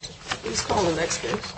Please call the next case.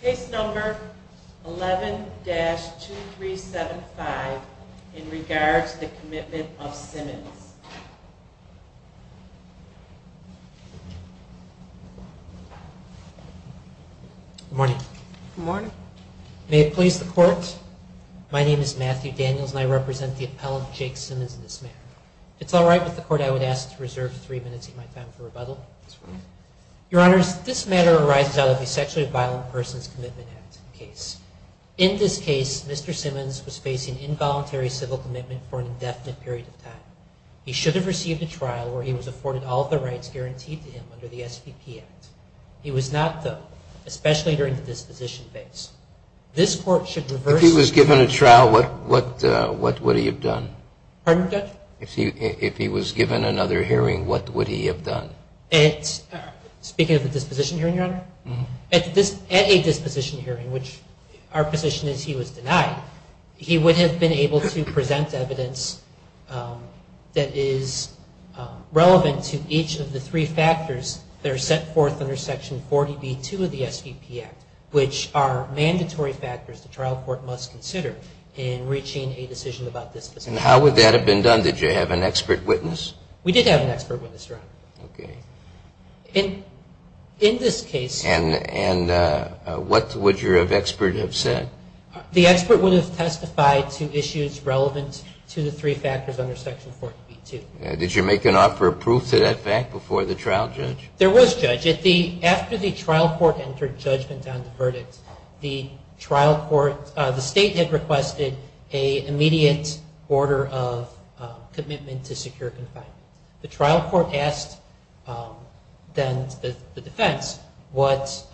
Case number 11-2375 in regards to the Commitment of Simmons. Good morning. Good morning. May it please the Court, my name is Matthew Daniels and I represent the appellant, Jake Simmons, in this matter. If it's all right with the Court, I would ask to reserve three minutes of my time for rebuttal. Your Honors, this matter arises out of the Sexually Violent Persons Commitment Act case. In this case, Mr. Simmons was facing involuntary civil commitment for an indefinite period of time. He should have received a trial where he was afforded all of the rights guaranteed to him under the SVP Act. He was not, though, especially during the disposition phase. This Court should reverse- If he was given a trial, what would he have done? Pardon, Judge? If he was given another hearing, what would he have done? Speaking of the disposition hearing, Your Honor, at a disposition hearing, which our position is he was denied, he would have been able to present evidence that is relevant to each of the three factors that are set forth under Section 40B-2 of the SVP Act, which are mandatory factors the trial court must consider in reaching a decision about disposition. And how would that have been done? Did you have an expert witness? We did have an expert witness, Your Honor. Okay. In this case- And what would your expert have said? The expert would have testified to issues relevant to the three factors under Section 40B-2. Did you make an offer of proof to that fact before the trial, Judge? There was, Judge. After the trial court entered judgment on the verdict, the state had requested an immediate order of commitment to secure confinement. The trial court asked then the defense what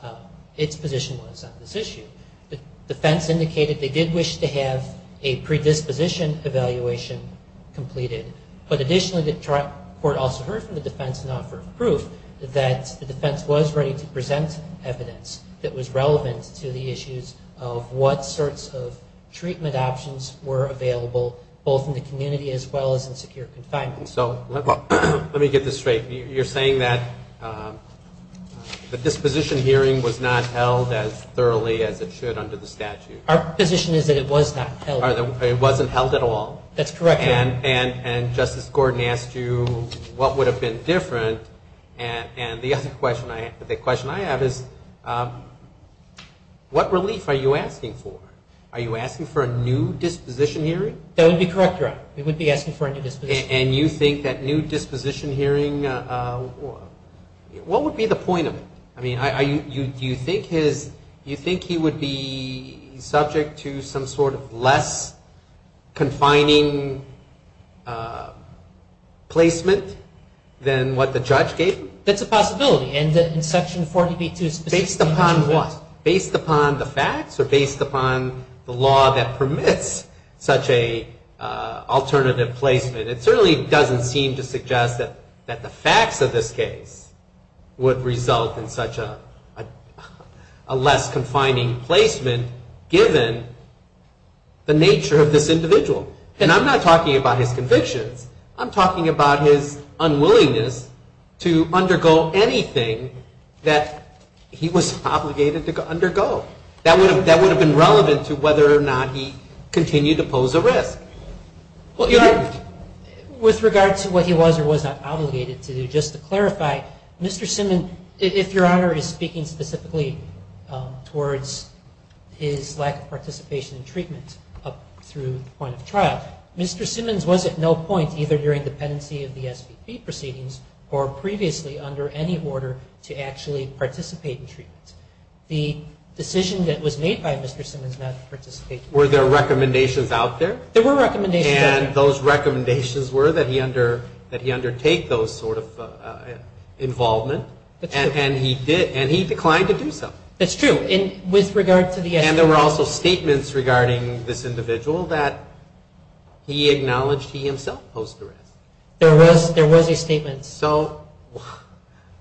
its position was on this issue. The defense indicated they did wish to have a predisposition evaluation completed, but additionally the trial court also heard from the defense an offer of proof that the defense was ready to present evidence that was relevant to the issues of what sorts of treatment options were available both in the community as well as in secure confinement. So let me get this straight. You're saying that the disposition hearing was not held as thoroughly as it should under the statute? Our position is that it was not held. It wasn't held at all? That's correct, Your Honor. And Justice Gordon asked you what would have been different, and the other question I have is what relief are you asking for? Are you asking for a new disposition hearing? That would be correct, Your Honor. We would be asking for a new disposition hearing. And you think that new disposition hearing, what would be the point of it? I mean, do you think he would be subject to some sort of less confining placement than what the judge gave him? That's a possibility. And in Section 40B-2, it's based upon what? It certainly doesn't seem to suggest that the facts of this case would result in such a less confining placement given the nature of this individual. And I'm not talking about his convictions. I'm talking about his unwillingness to undergo anything that he was obligated to undergo. That would have been relevant to whether or not he continued to pose a risk. With regard to what he was or was not obligated to do, just to clarify, Mr. Simmons, if Your Honor is speaking specifically towards his lack of participation in treatment up through the point of trial, Mr. Simmons was at no point either during the pendency of the SVP proceedings or previously under any order to actually participate in treatment. The decision that was made by Mr. Simmons not to participate in treatment. Were there recommendations out there? There were recommendations out there. And those recommendations were that he undertake those sort of involvement. That's true. And he declined to do so. That's true. With regard to the SVP. And there were also statements regarding this individual that he acknowledged he himself posed the risk. There was a statement. So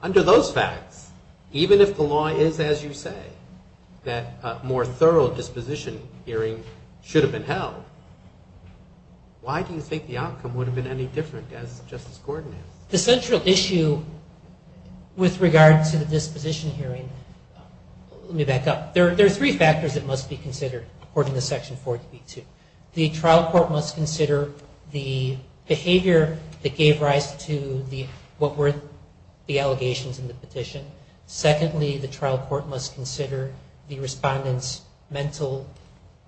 under those facts, even if the law is as you say, that a more thorough disposition hearing should have been held, why do you think the outcome would have been any different as Justice Gordon has? The central issue with regard to the disposition hearing, let me back up. There are three factors that must be considered according to Section 40B-2. The trial court must consider the behavior that gave rise to what were the allegations in the petition. Secondly, the trial court must consider the respondent's mental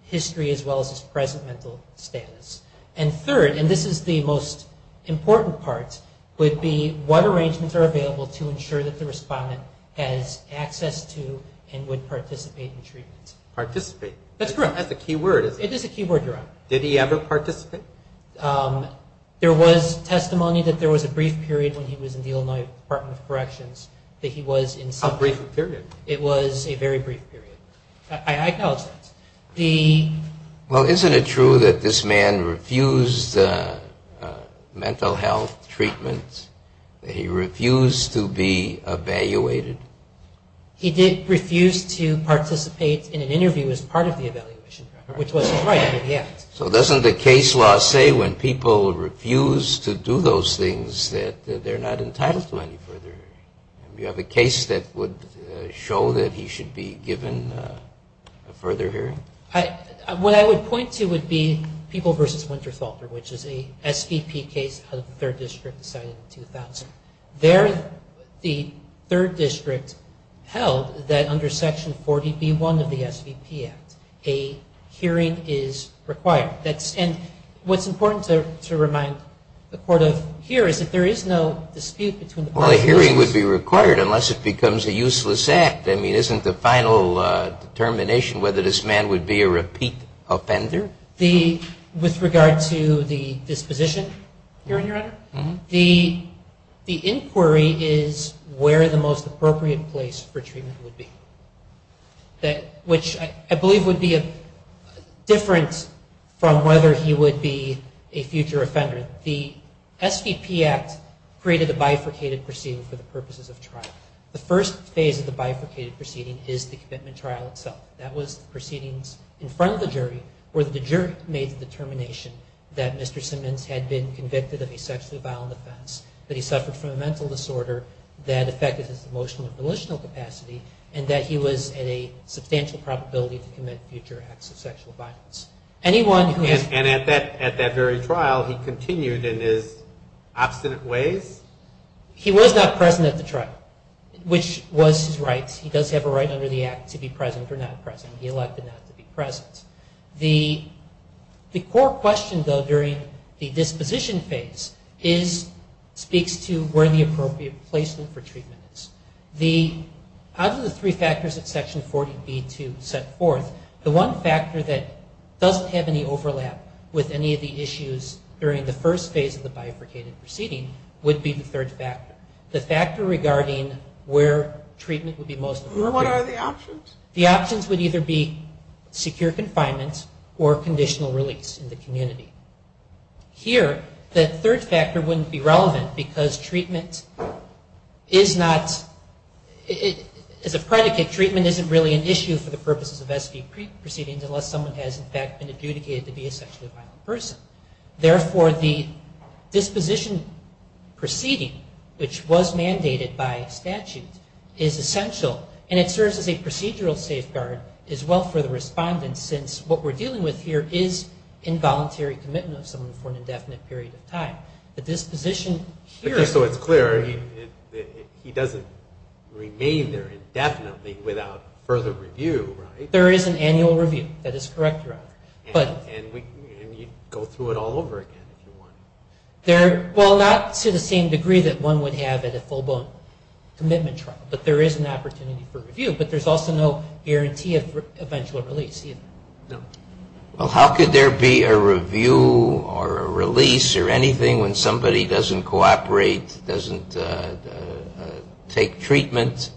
history as well as his present mental status. And third, and this is the most important part, would be what arrangements are available to ensure that the respondent has access to and would participate in treatment. Participate. That's correct. It is a key word, your Honor. Did he ever participate? There was testimony that there was a brief period when he was in the Illinois Department of Corrections that he was in some. A brief period. It was a very brief period. I acknowledge that. Well, isn't it true that this man refused mental health treatment? He refused to be evaluated? He did refuse to participate in an interview as part of the evaluation, which was his right under the Act. So doesn't the case law say when people refuse to do those things that they're not entitled to any further hearing? Do you have a case that would show that he should be given a further hearing? What I would point to would be People v. Winterfelter, which is a SVP case out of the 3rd District decided in 2000. There the 3rd District held that under Section 40B1 of the SVP Act a hearing is required. And what's important to remind the Court of here is that there is no dispute between the parties. Well, a hearing would be required unless it becomes a useless act. I mean, isn't the final determination whether this man would be a repeat offender? With regard to the disposition hearing, Your Honor, the inquiry is where the most appropriate place for treatment would be, which I believe would be different from whether he would be a future offender. The SVP Act created a bifurcated proceeding for the purposes of trial. The first phase of the bifurcated proceeding is the commitment trial itself. That was the proceedings in front of the jury where the jury made the determination that Mr. Simmons had been convicted of a sexually violent offense, that he suffered from a mental disorder that affected his emotional and volitional capacity, and that he was at a substantial probability to commit future acts of sexual violence. And at that very trial he continued in his obstinate ways? He was not present at the trial, which was his right. He does have a right under the Act to be present or not present. He elected not to be present. The court question, though, during the disposition phase speaks to where the appropriate placement for treatment is. Out of the three factors that Section 40B2 set forth, the one factor that doesn't have any overlap with any of the issues during the first phase of the bifurcated proceeding would be the third factor. The factor regarding where treatment would be most appropriate. What are the options? The options would either be secure confinement or conditional release in the community. Here the third factor wouldn't be relevant because treatment is not as a predicate, treatment isn't really an issue for the purposes of SVP proceedings unless someone has in fact been adjudicated to be a sexually violent person. Therefore, the disposition proceeding, which was mandated by statute, is essential and it serves as a procedural safeguard as well for the respondent since what we're dealing with here is involuntary commitment of someone for an indefinite period of time. The disposition here... So it's clear he doesn't remain there indefinitely without further review, right? There is an annual review. That is correct, Your Honor. And you can go through it all over again if you want. Well, not to the same degree that one would have at a full-blown commitment trial, but there is an opportunity for review. But there's also no guarantee of eventual release either. No. Well, how could there be a review or a release or anything when somebody doesn't cooperate, doesn't take treatment?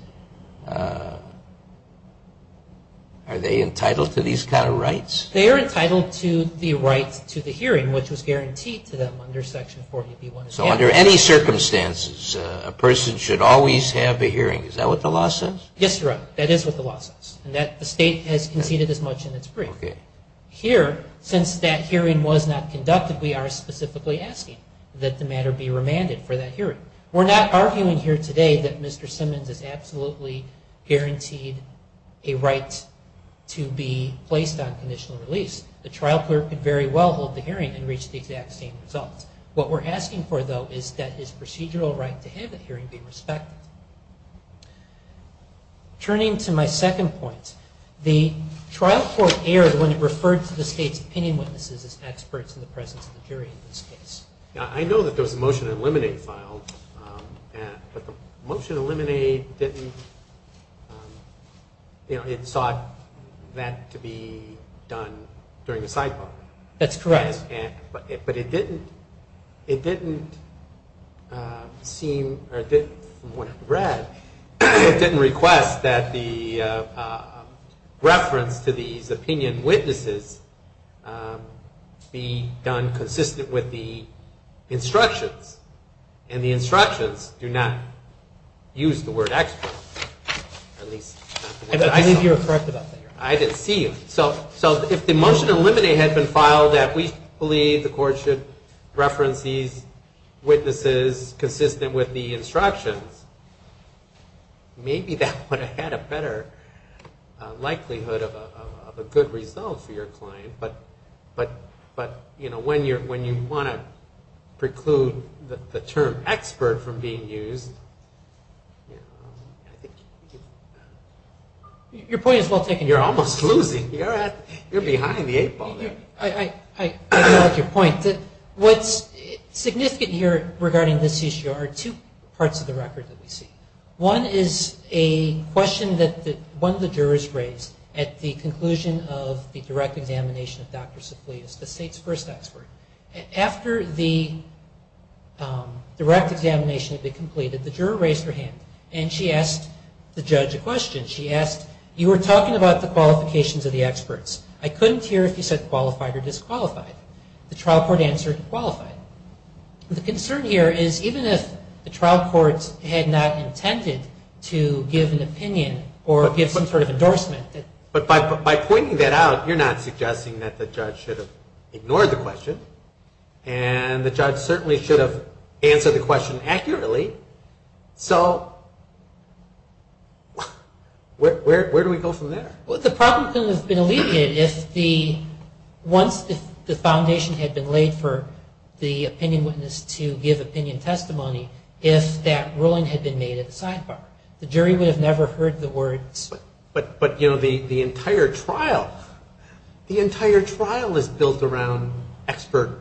Are they entitled to these kind of rights? They are entitled to the right to the hearing, which was guaranteed to them under Section 40B-1. So under any circumstances, a person should always have a hearing. Is that what the law says? Yes, Your Honor. That is what the law says. And the state has conceded as much in its brief. Okay. Here, since that hearing was not conducted, we are specifically asking that the matter be remanded for that hearing. We're not arguing here today that Mr. Simmons is absolutely guaranteed a right to be placed on conditional release. The trial clerk could very well hold the hearing and reach the exact same results. What we're asking for, though, is that his procedural right to have the hearing be respected. Turning to my second point, the trial court erred when it referred to the state's opinion witnesses as experts in the presence of the jury in this case. I know that there was a motion to eliminate filed, but the motion to eliminate didn't, you know, it sought that to be done during the sidebar. That's correct. But it didn't seem, or from what it read, it didn't request that the reference to these opinion witnesses be done consistent with the instructions. And the instructions do not use the word expert. At least not the way I saw it. I believe you were correct about that, Your Honor. I didn't see them. So if the motion to eliminate had been filed that we believe the court should reference these witnesses consistent with the instructions, maybe that would have had a better likelihood of a good result for your client. But, you know, when you want to preclude the term expert from being used, you know, I think... Your point is well taken. You're almost losing. You're behind the eight ball there. I like your point. What's significant here regarding this issue are two parts of the record that we see. One is a question that one of the jurors raised at the conclusion of the direct examination of Dr. Safli as the state's first expert. After the direct examination had been completed, the juror raised her hand and she asked the judge a question. She asked, you were talking about the qualifications of the experts. I couldn't hear if you said qualified or disqualified. The trial court answered qualified. The concern here is even if the trial court had not intended to give an opinion or give some sort of endorsement... By pointing that out, you're not suggesting that the judge should have ignored the question and the judge certainly should have answered the question accurately. So where do we go from there? Well, the problem has been alleviated if the foundation had been laid for the opinion witness to give opinion testimony, if that ruling had been made at the sidebar. The jury would have never heard the words... But the entire trial is built around expert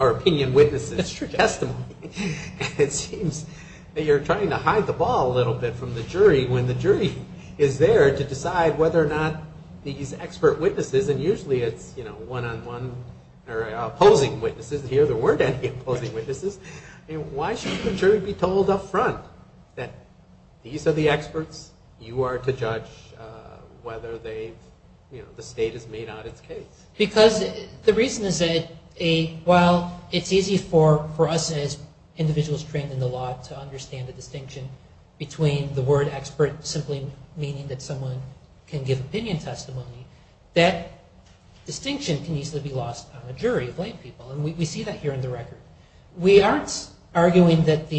or opinion witness testimony. It seems that you're trying to hide the ball a little bit from the jury when the jury is there to decide whether or not these expert witnesses, and usually it's one-on-one or opposing witnesses. Here there weren't any opposing witnesses. Why should the jury be told up front that these are the experts, you are to judge whether the state has made out its case? Because the reason is that while it's easy for us as individuals trained in the law to understand the distinction between the word expert simply meaning that someone can give opinion testimony, that distinction can easily be lost on a jury of lay people, and we see that here in the record. We aren't arguing that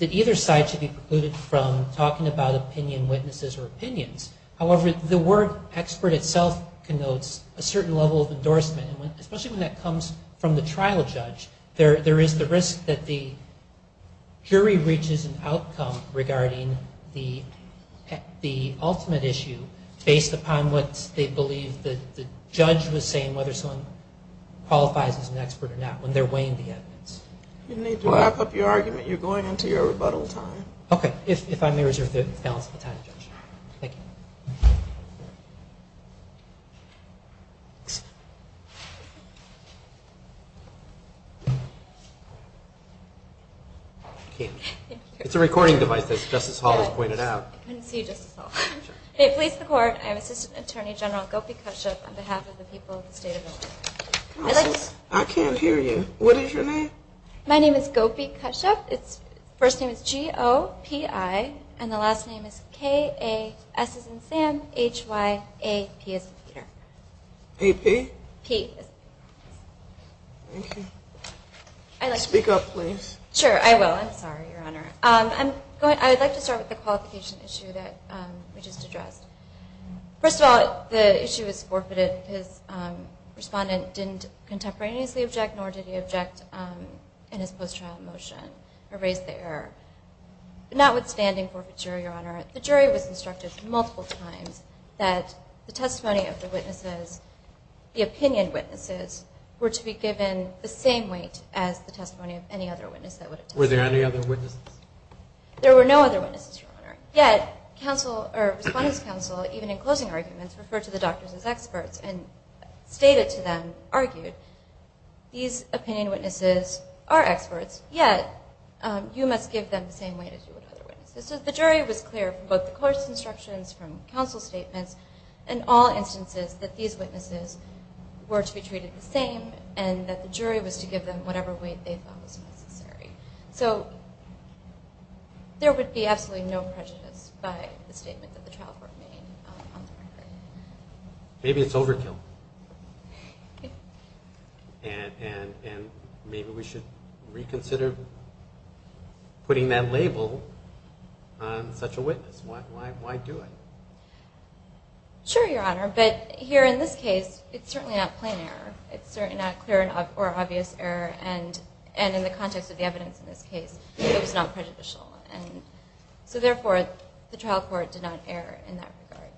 either side should be precluded from talking about opinion witnesses or opinions. However, the word expert itself connotes a certain level of endorsement, especially when that comes from the trial judge. There is the risk that the jury reaches an outcome regarding the ultimate issue based upon what they believe the judge was saying, whether someone qualifies as an expert or not, when they're weighing the evidence. You need to wrap up your argument. You're going into your rebuttal time. Okay. If I may reserve the balance of the time, Judge. Thank you. It's a recording device, as Justice Hall has pointed out. I couldn't see you, Justice Hall. Hey, police, the court. I am Assistant Attorney General Gopi Kashyap on behalf of the people of the state of Illinois. Counsel, I can't hear you. What is your name? My name is Gopi Kashyap. First name is G-O-P-I, and the last name is K-A-S as in Sam, H-Y-A-P as in Peter. A-P? P. Speak up, please. Sure, I will. I'm sorry, Your Honor. I would like to start with the qualification issue that we just addressed. First of all, the issue is forfeited. His respondent didn't contemporaneously object, nor did he object in his post-trial motion or raise the error. Notwithstanding forfeiture, Your Honor, the jury was instructed multiple times that the testimony of the witnesses, the opinion witnesses, were to be given the same weight as the testimony of any other witness that would have testified. Were there any other witnesses? There were no other witnesses, Your Honor. Yet, counsel or respondent's counsel, even in closing arguments, referred to the doctors as experts and stated to them, argued, these opinion witnesses are experts, yet you must give them the same weight as you would other witnesses. So the jury was clear from both the court's instructions, from counsel's statements, and all instances that these witnesses were to be treated the same and that the jury was to give them whatever weight they thought was necessary. So there would be absolutely no prejudice by the statement that the trial court made on the record. Maybe it's overkill. And maybe we should reconsider putting that label on such a witness. Why do it? Sure, Your Honor, but here in this case, it's certainly not plain error. It's certainly not clear or obvious error. And in the context of the evidence in this case, it was not prejudicial. And so, therefore, the trial court did not err in that regard.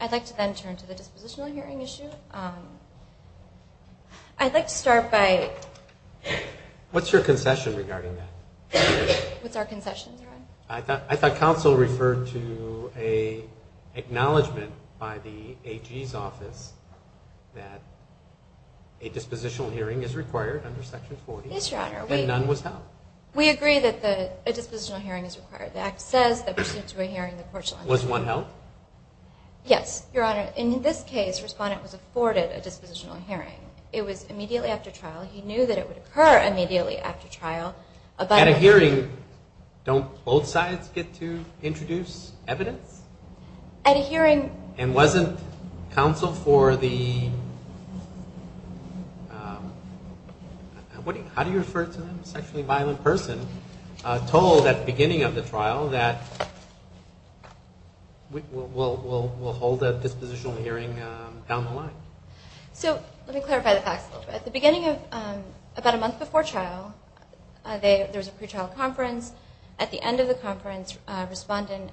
I'd like to then turn to the dispositional hearing issue. I'd like to start by... What's your concession regarding that? What's our concession, Your Honor? I thought counsel referred to an acknowledgment by the AG's office that a dispositional hearing is required under Section 40. Yes, Your Honor. And none was held. We agree that a dispositional hearing is required. The Act says that pursuant to a hearing, the court shall... Was one held? Yes, Your Honor. In this case, a respondent was afforded a dispositional hearing. It was immediately after trial. He knew that it would occur immediately after trial. At a hearing, don't both sides get to introduce evidence? At a hearing... And wasn't counsel for the... How do you refer to them? A sexually violent person told at the beginning of the trial that we'll hold a dispositional hearing down the line. So let me clarify the facts a little bit. At the beginning of... About a month before trial, there was a pretrial conference. At the end of the conference, a respondent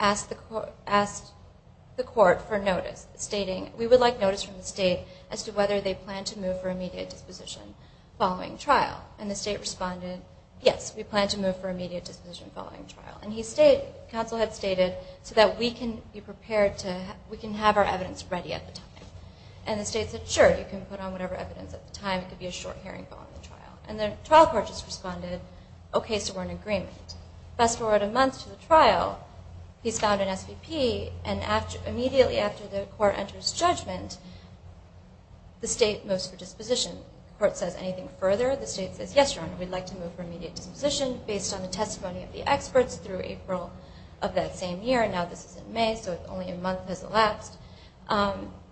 asked the court for notice, stating we would like notice from the state as to whether they plan to move for immediate disposition following trial. And the state responded, yes, we plan to move for immediate disposition following trial. And counsel had stated so that we can be prepared to... We can have our evidence ready at the time. And the state said, sure, you can put on whatever evidence at the time. It could be a short hearing following the trial. And the trial court just responded, okay, so we're in agreement. Fast forward a month to the trial, he's found an SVP, and immediately after the court enters judgment, the state moves for disposition. The court says, anything further? The state says, yes, Your Honor, we'd like to move for immediate disposition based on the testimony of the experts through April of that same year. Now this is in May, so only a month has elapsed.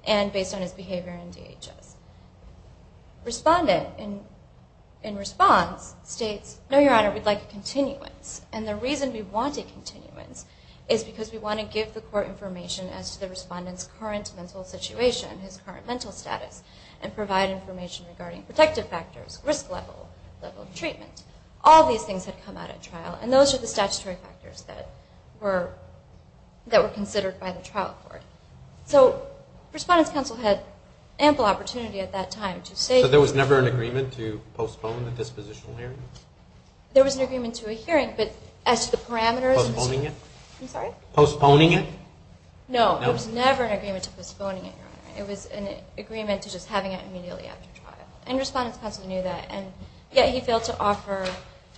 And based on his behavior in DHS. Respondent, in response, states, no, Your Honor, we'd like a continuance. And the reason we want a continuance is because we want to give the court information as to the respondent's current mental situation, his current mental status, and provide information regarding protective factors, risk level, level of treatment. All these things had come out at trial, and those are the statutory factors that were considered by the trial court. So respondent's counsel had ample opportunity at that time to say... So there was never an agreement to postpone the dispositional hearing? There was an agreement to a hearing, but as to the parameters... Postponing it? I'm sorry? Postponing it? No, there was never an agreement to postponing it, Your Honor. It was an agreement to just having it immediately after trial. And respondent's counsel knew that, and yet he failed to offer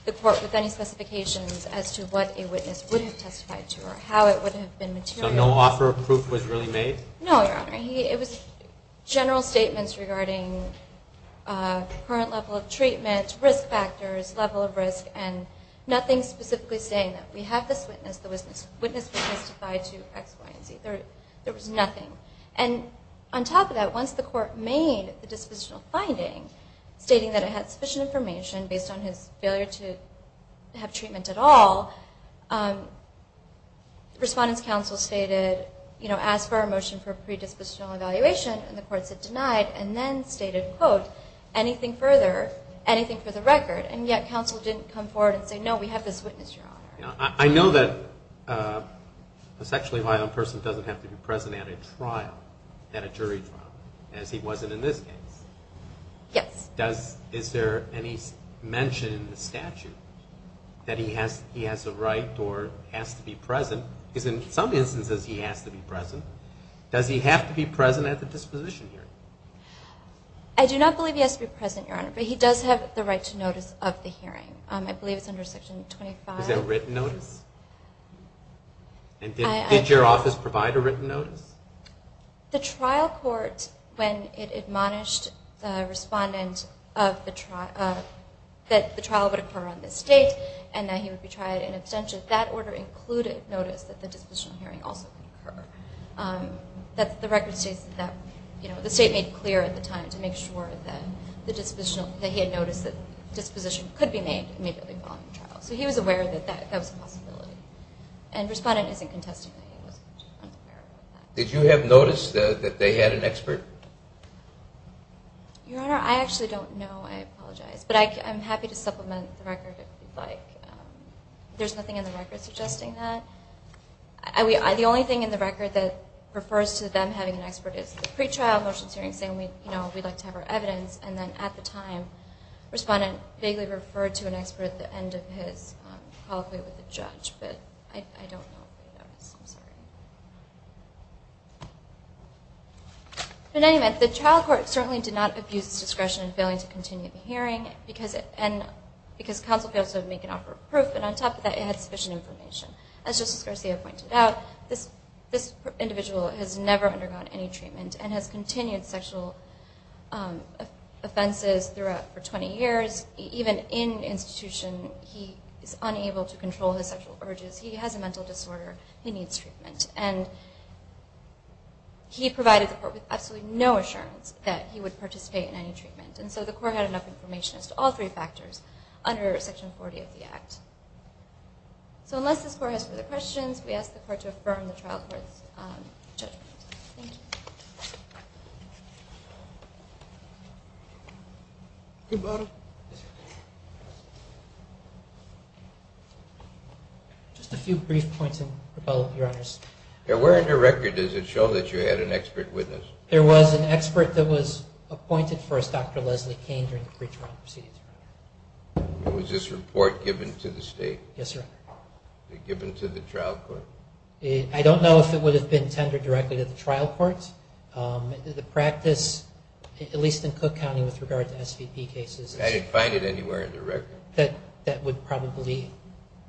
the court with any specifications as to what a witness would have testified to, or how it would have been material. So no offer of proof was really made? No, Your Honor. It was general statements regarding current level of treatment, risk factors, level of risk, and nothing specifically saying that we have this witness that was witness testified to X, Y, and Z. There was nothing. And on top of that, once the court made the dispositional finding, stating that it had sufficient information based on his failure to have treatment at all, respondent's counsel stated, ask for a motion for a predispositional evaluation, and the court said denied, and then stated, quote, anything further, anything for the record, and yet counsel didn't come forward and say, no, we have this witness, Your Honor. I know that a sexually violent person doesn't have to be present at a trial, at a jury trial, as he wasn't in this case. Yes. Is there any mention in the statute that he has a right or has to be present? Because in some instances he has to be present. Does he have to be present at the disposition hearing? I do not believe he has to be present, Your Honor, but he does have the right to notice of the hearing. I believe it's under Section 25. Is that written notice? And did your office provide a written notice? The trial court, when it admonished the respondent that the trial would occur on this date and that he would be tried in absentia, that order included notice that the disposition hearing also could occur. The record states that the state made it clear at the time to make sure that he had noticed that disposition could be made and may be able to be followed in the trial. So he was aware that that was a possibility, and the respondent isn't contesting that he wasn't aware of that. Did you have notice that they had an expert? Your Honor, I actually don't know. I apologize. But I'm happy to supplement the record if you'd like. There's nothing in the record suggesting that. The only thing in the record that refers to them having an expert is the pretrial motions hearing saying we'd like to have our evidence, and then at the time, the respondent vaguely referred to an expert at the end of his colloquy with the judge. But I don't know if they noticed. I'm sorry. In any event, the trial court certainly did not abuse its discretion in failing to continue the hearing because counsel failed to make an offer of proof, but on top of that, it had sufficient information. As Justice Garcia pointed out, this individual has never undergone any treatment and has continued sexual offenses throughout for 20 years. Even in institution, he is unable to control his sexual urges. He has a mental disorder. He needs treatment. And he provided the court with absolutely no assurance that he would participate in any treatment. And so the court had enough information as to all three factors under Section 40 of the Act. So unless this court has further questions, we ask the court to affirm the trial court's judgment. Thank you. Good morning. Good morning. Just a few brief points, Your Honors. Where in the record does it show that you had an expert witness? There was an expert that was appointed for us, Dr. Leslie Kane, during the pre-trial proceedings. Was this report given to the state? Yes, Your Honor. Was it given to the trial court? I don't know if it would have been tendered directly to the trial court. The practice, at least in Cook County with regard to SVP cases. I didn't find it anywhere in the record. That would probably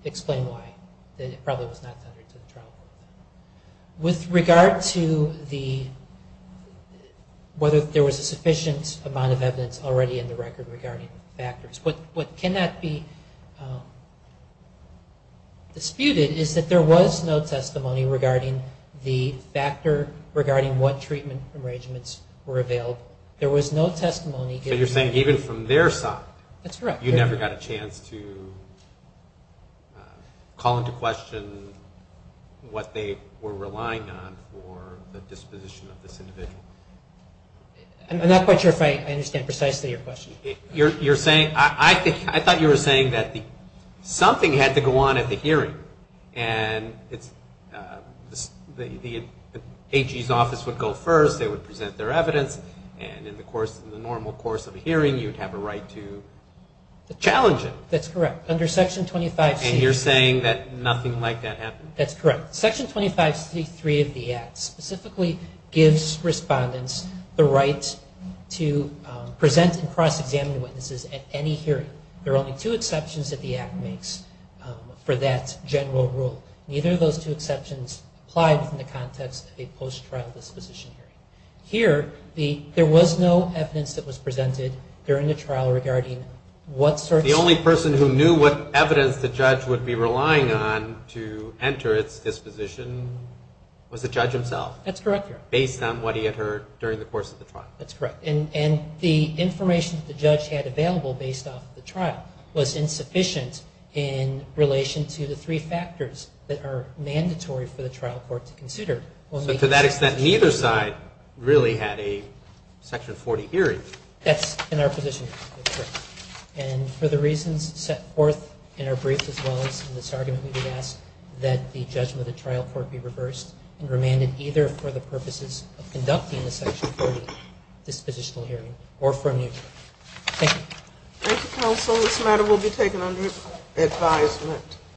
explain why, that it probably was not tendered to the trial court. With regard to whether there was a sufficient amount of evidence already in the record regarding factors, what cannot be disputed is that there was no testimony regarding the factor regarding what treatment arrangements were available. There was no testimony given. So you're saying even from their side, you never got a chance to call into question what they were relying on for the disposition of this individual? I'm not quite sure if I understand precisely your question. I thought you were saying that something had to go on at the hearing, and the AG's office would go first. They would present their evidence, and in the normal course of a hearing you'd have a right to challenge it. That's correct. Under Section 25C. And you're saying that nothing like that happened? That's correct. Section 25C.3 of the Act specifically gives respondents the right to present and cross-examine witnesses at any hearing. There are only two exceptions that the Act makes for that general rule. Neither of those two exceptions apply within the context of a post-trial disposition hearing. Here, there was no evidence that was presented during the trial regarding what sort of ---- The only person who knew what evidence the judge would be relying on to enter its disposition was the judge himself. That's correct, Your Honor. Based on what he had heard during the course of the trial. That's correct. And the information that the judge had available based off the trial was insufficient in relation to the three factors that are mandatory for the trial court to consider. So to that extent, neither side really had a Section 40 hearing. That's in our position. That's correct. And for the reasons set forth in our brief as well as in this argument, we would ask that the judgment of the trial court be reversed and remanded either for the purposes of conducting the Section 40 dispositional hearing or for a new trial. Thank you. Thank you, counsel. This matter will be taken under advisement.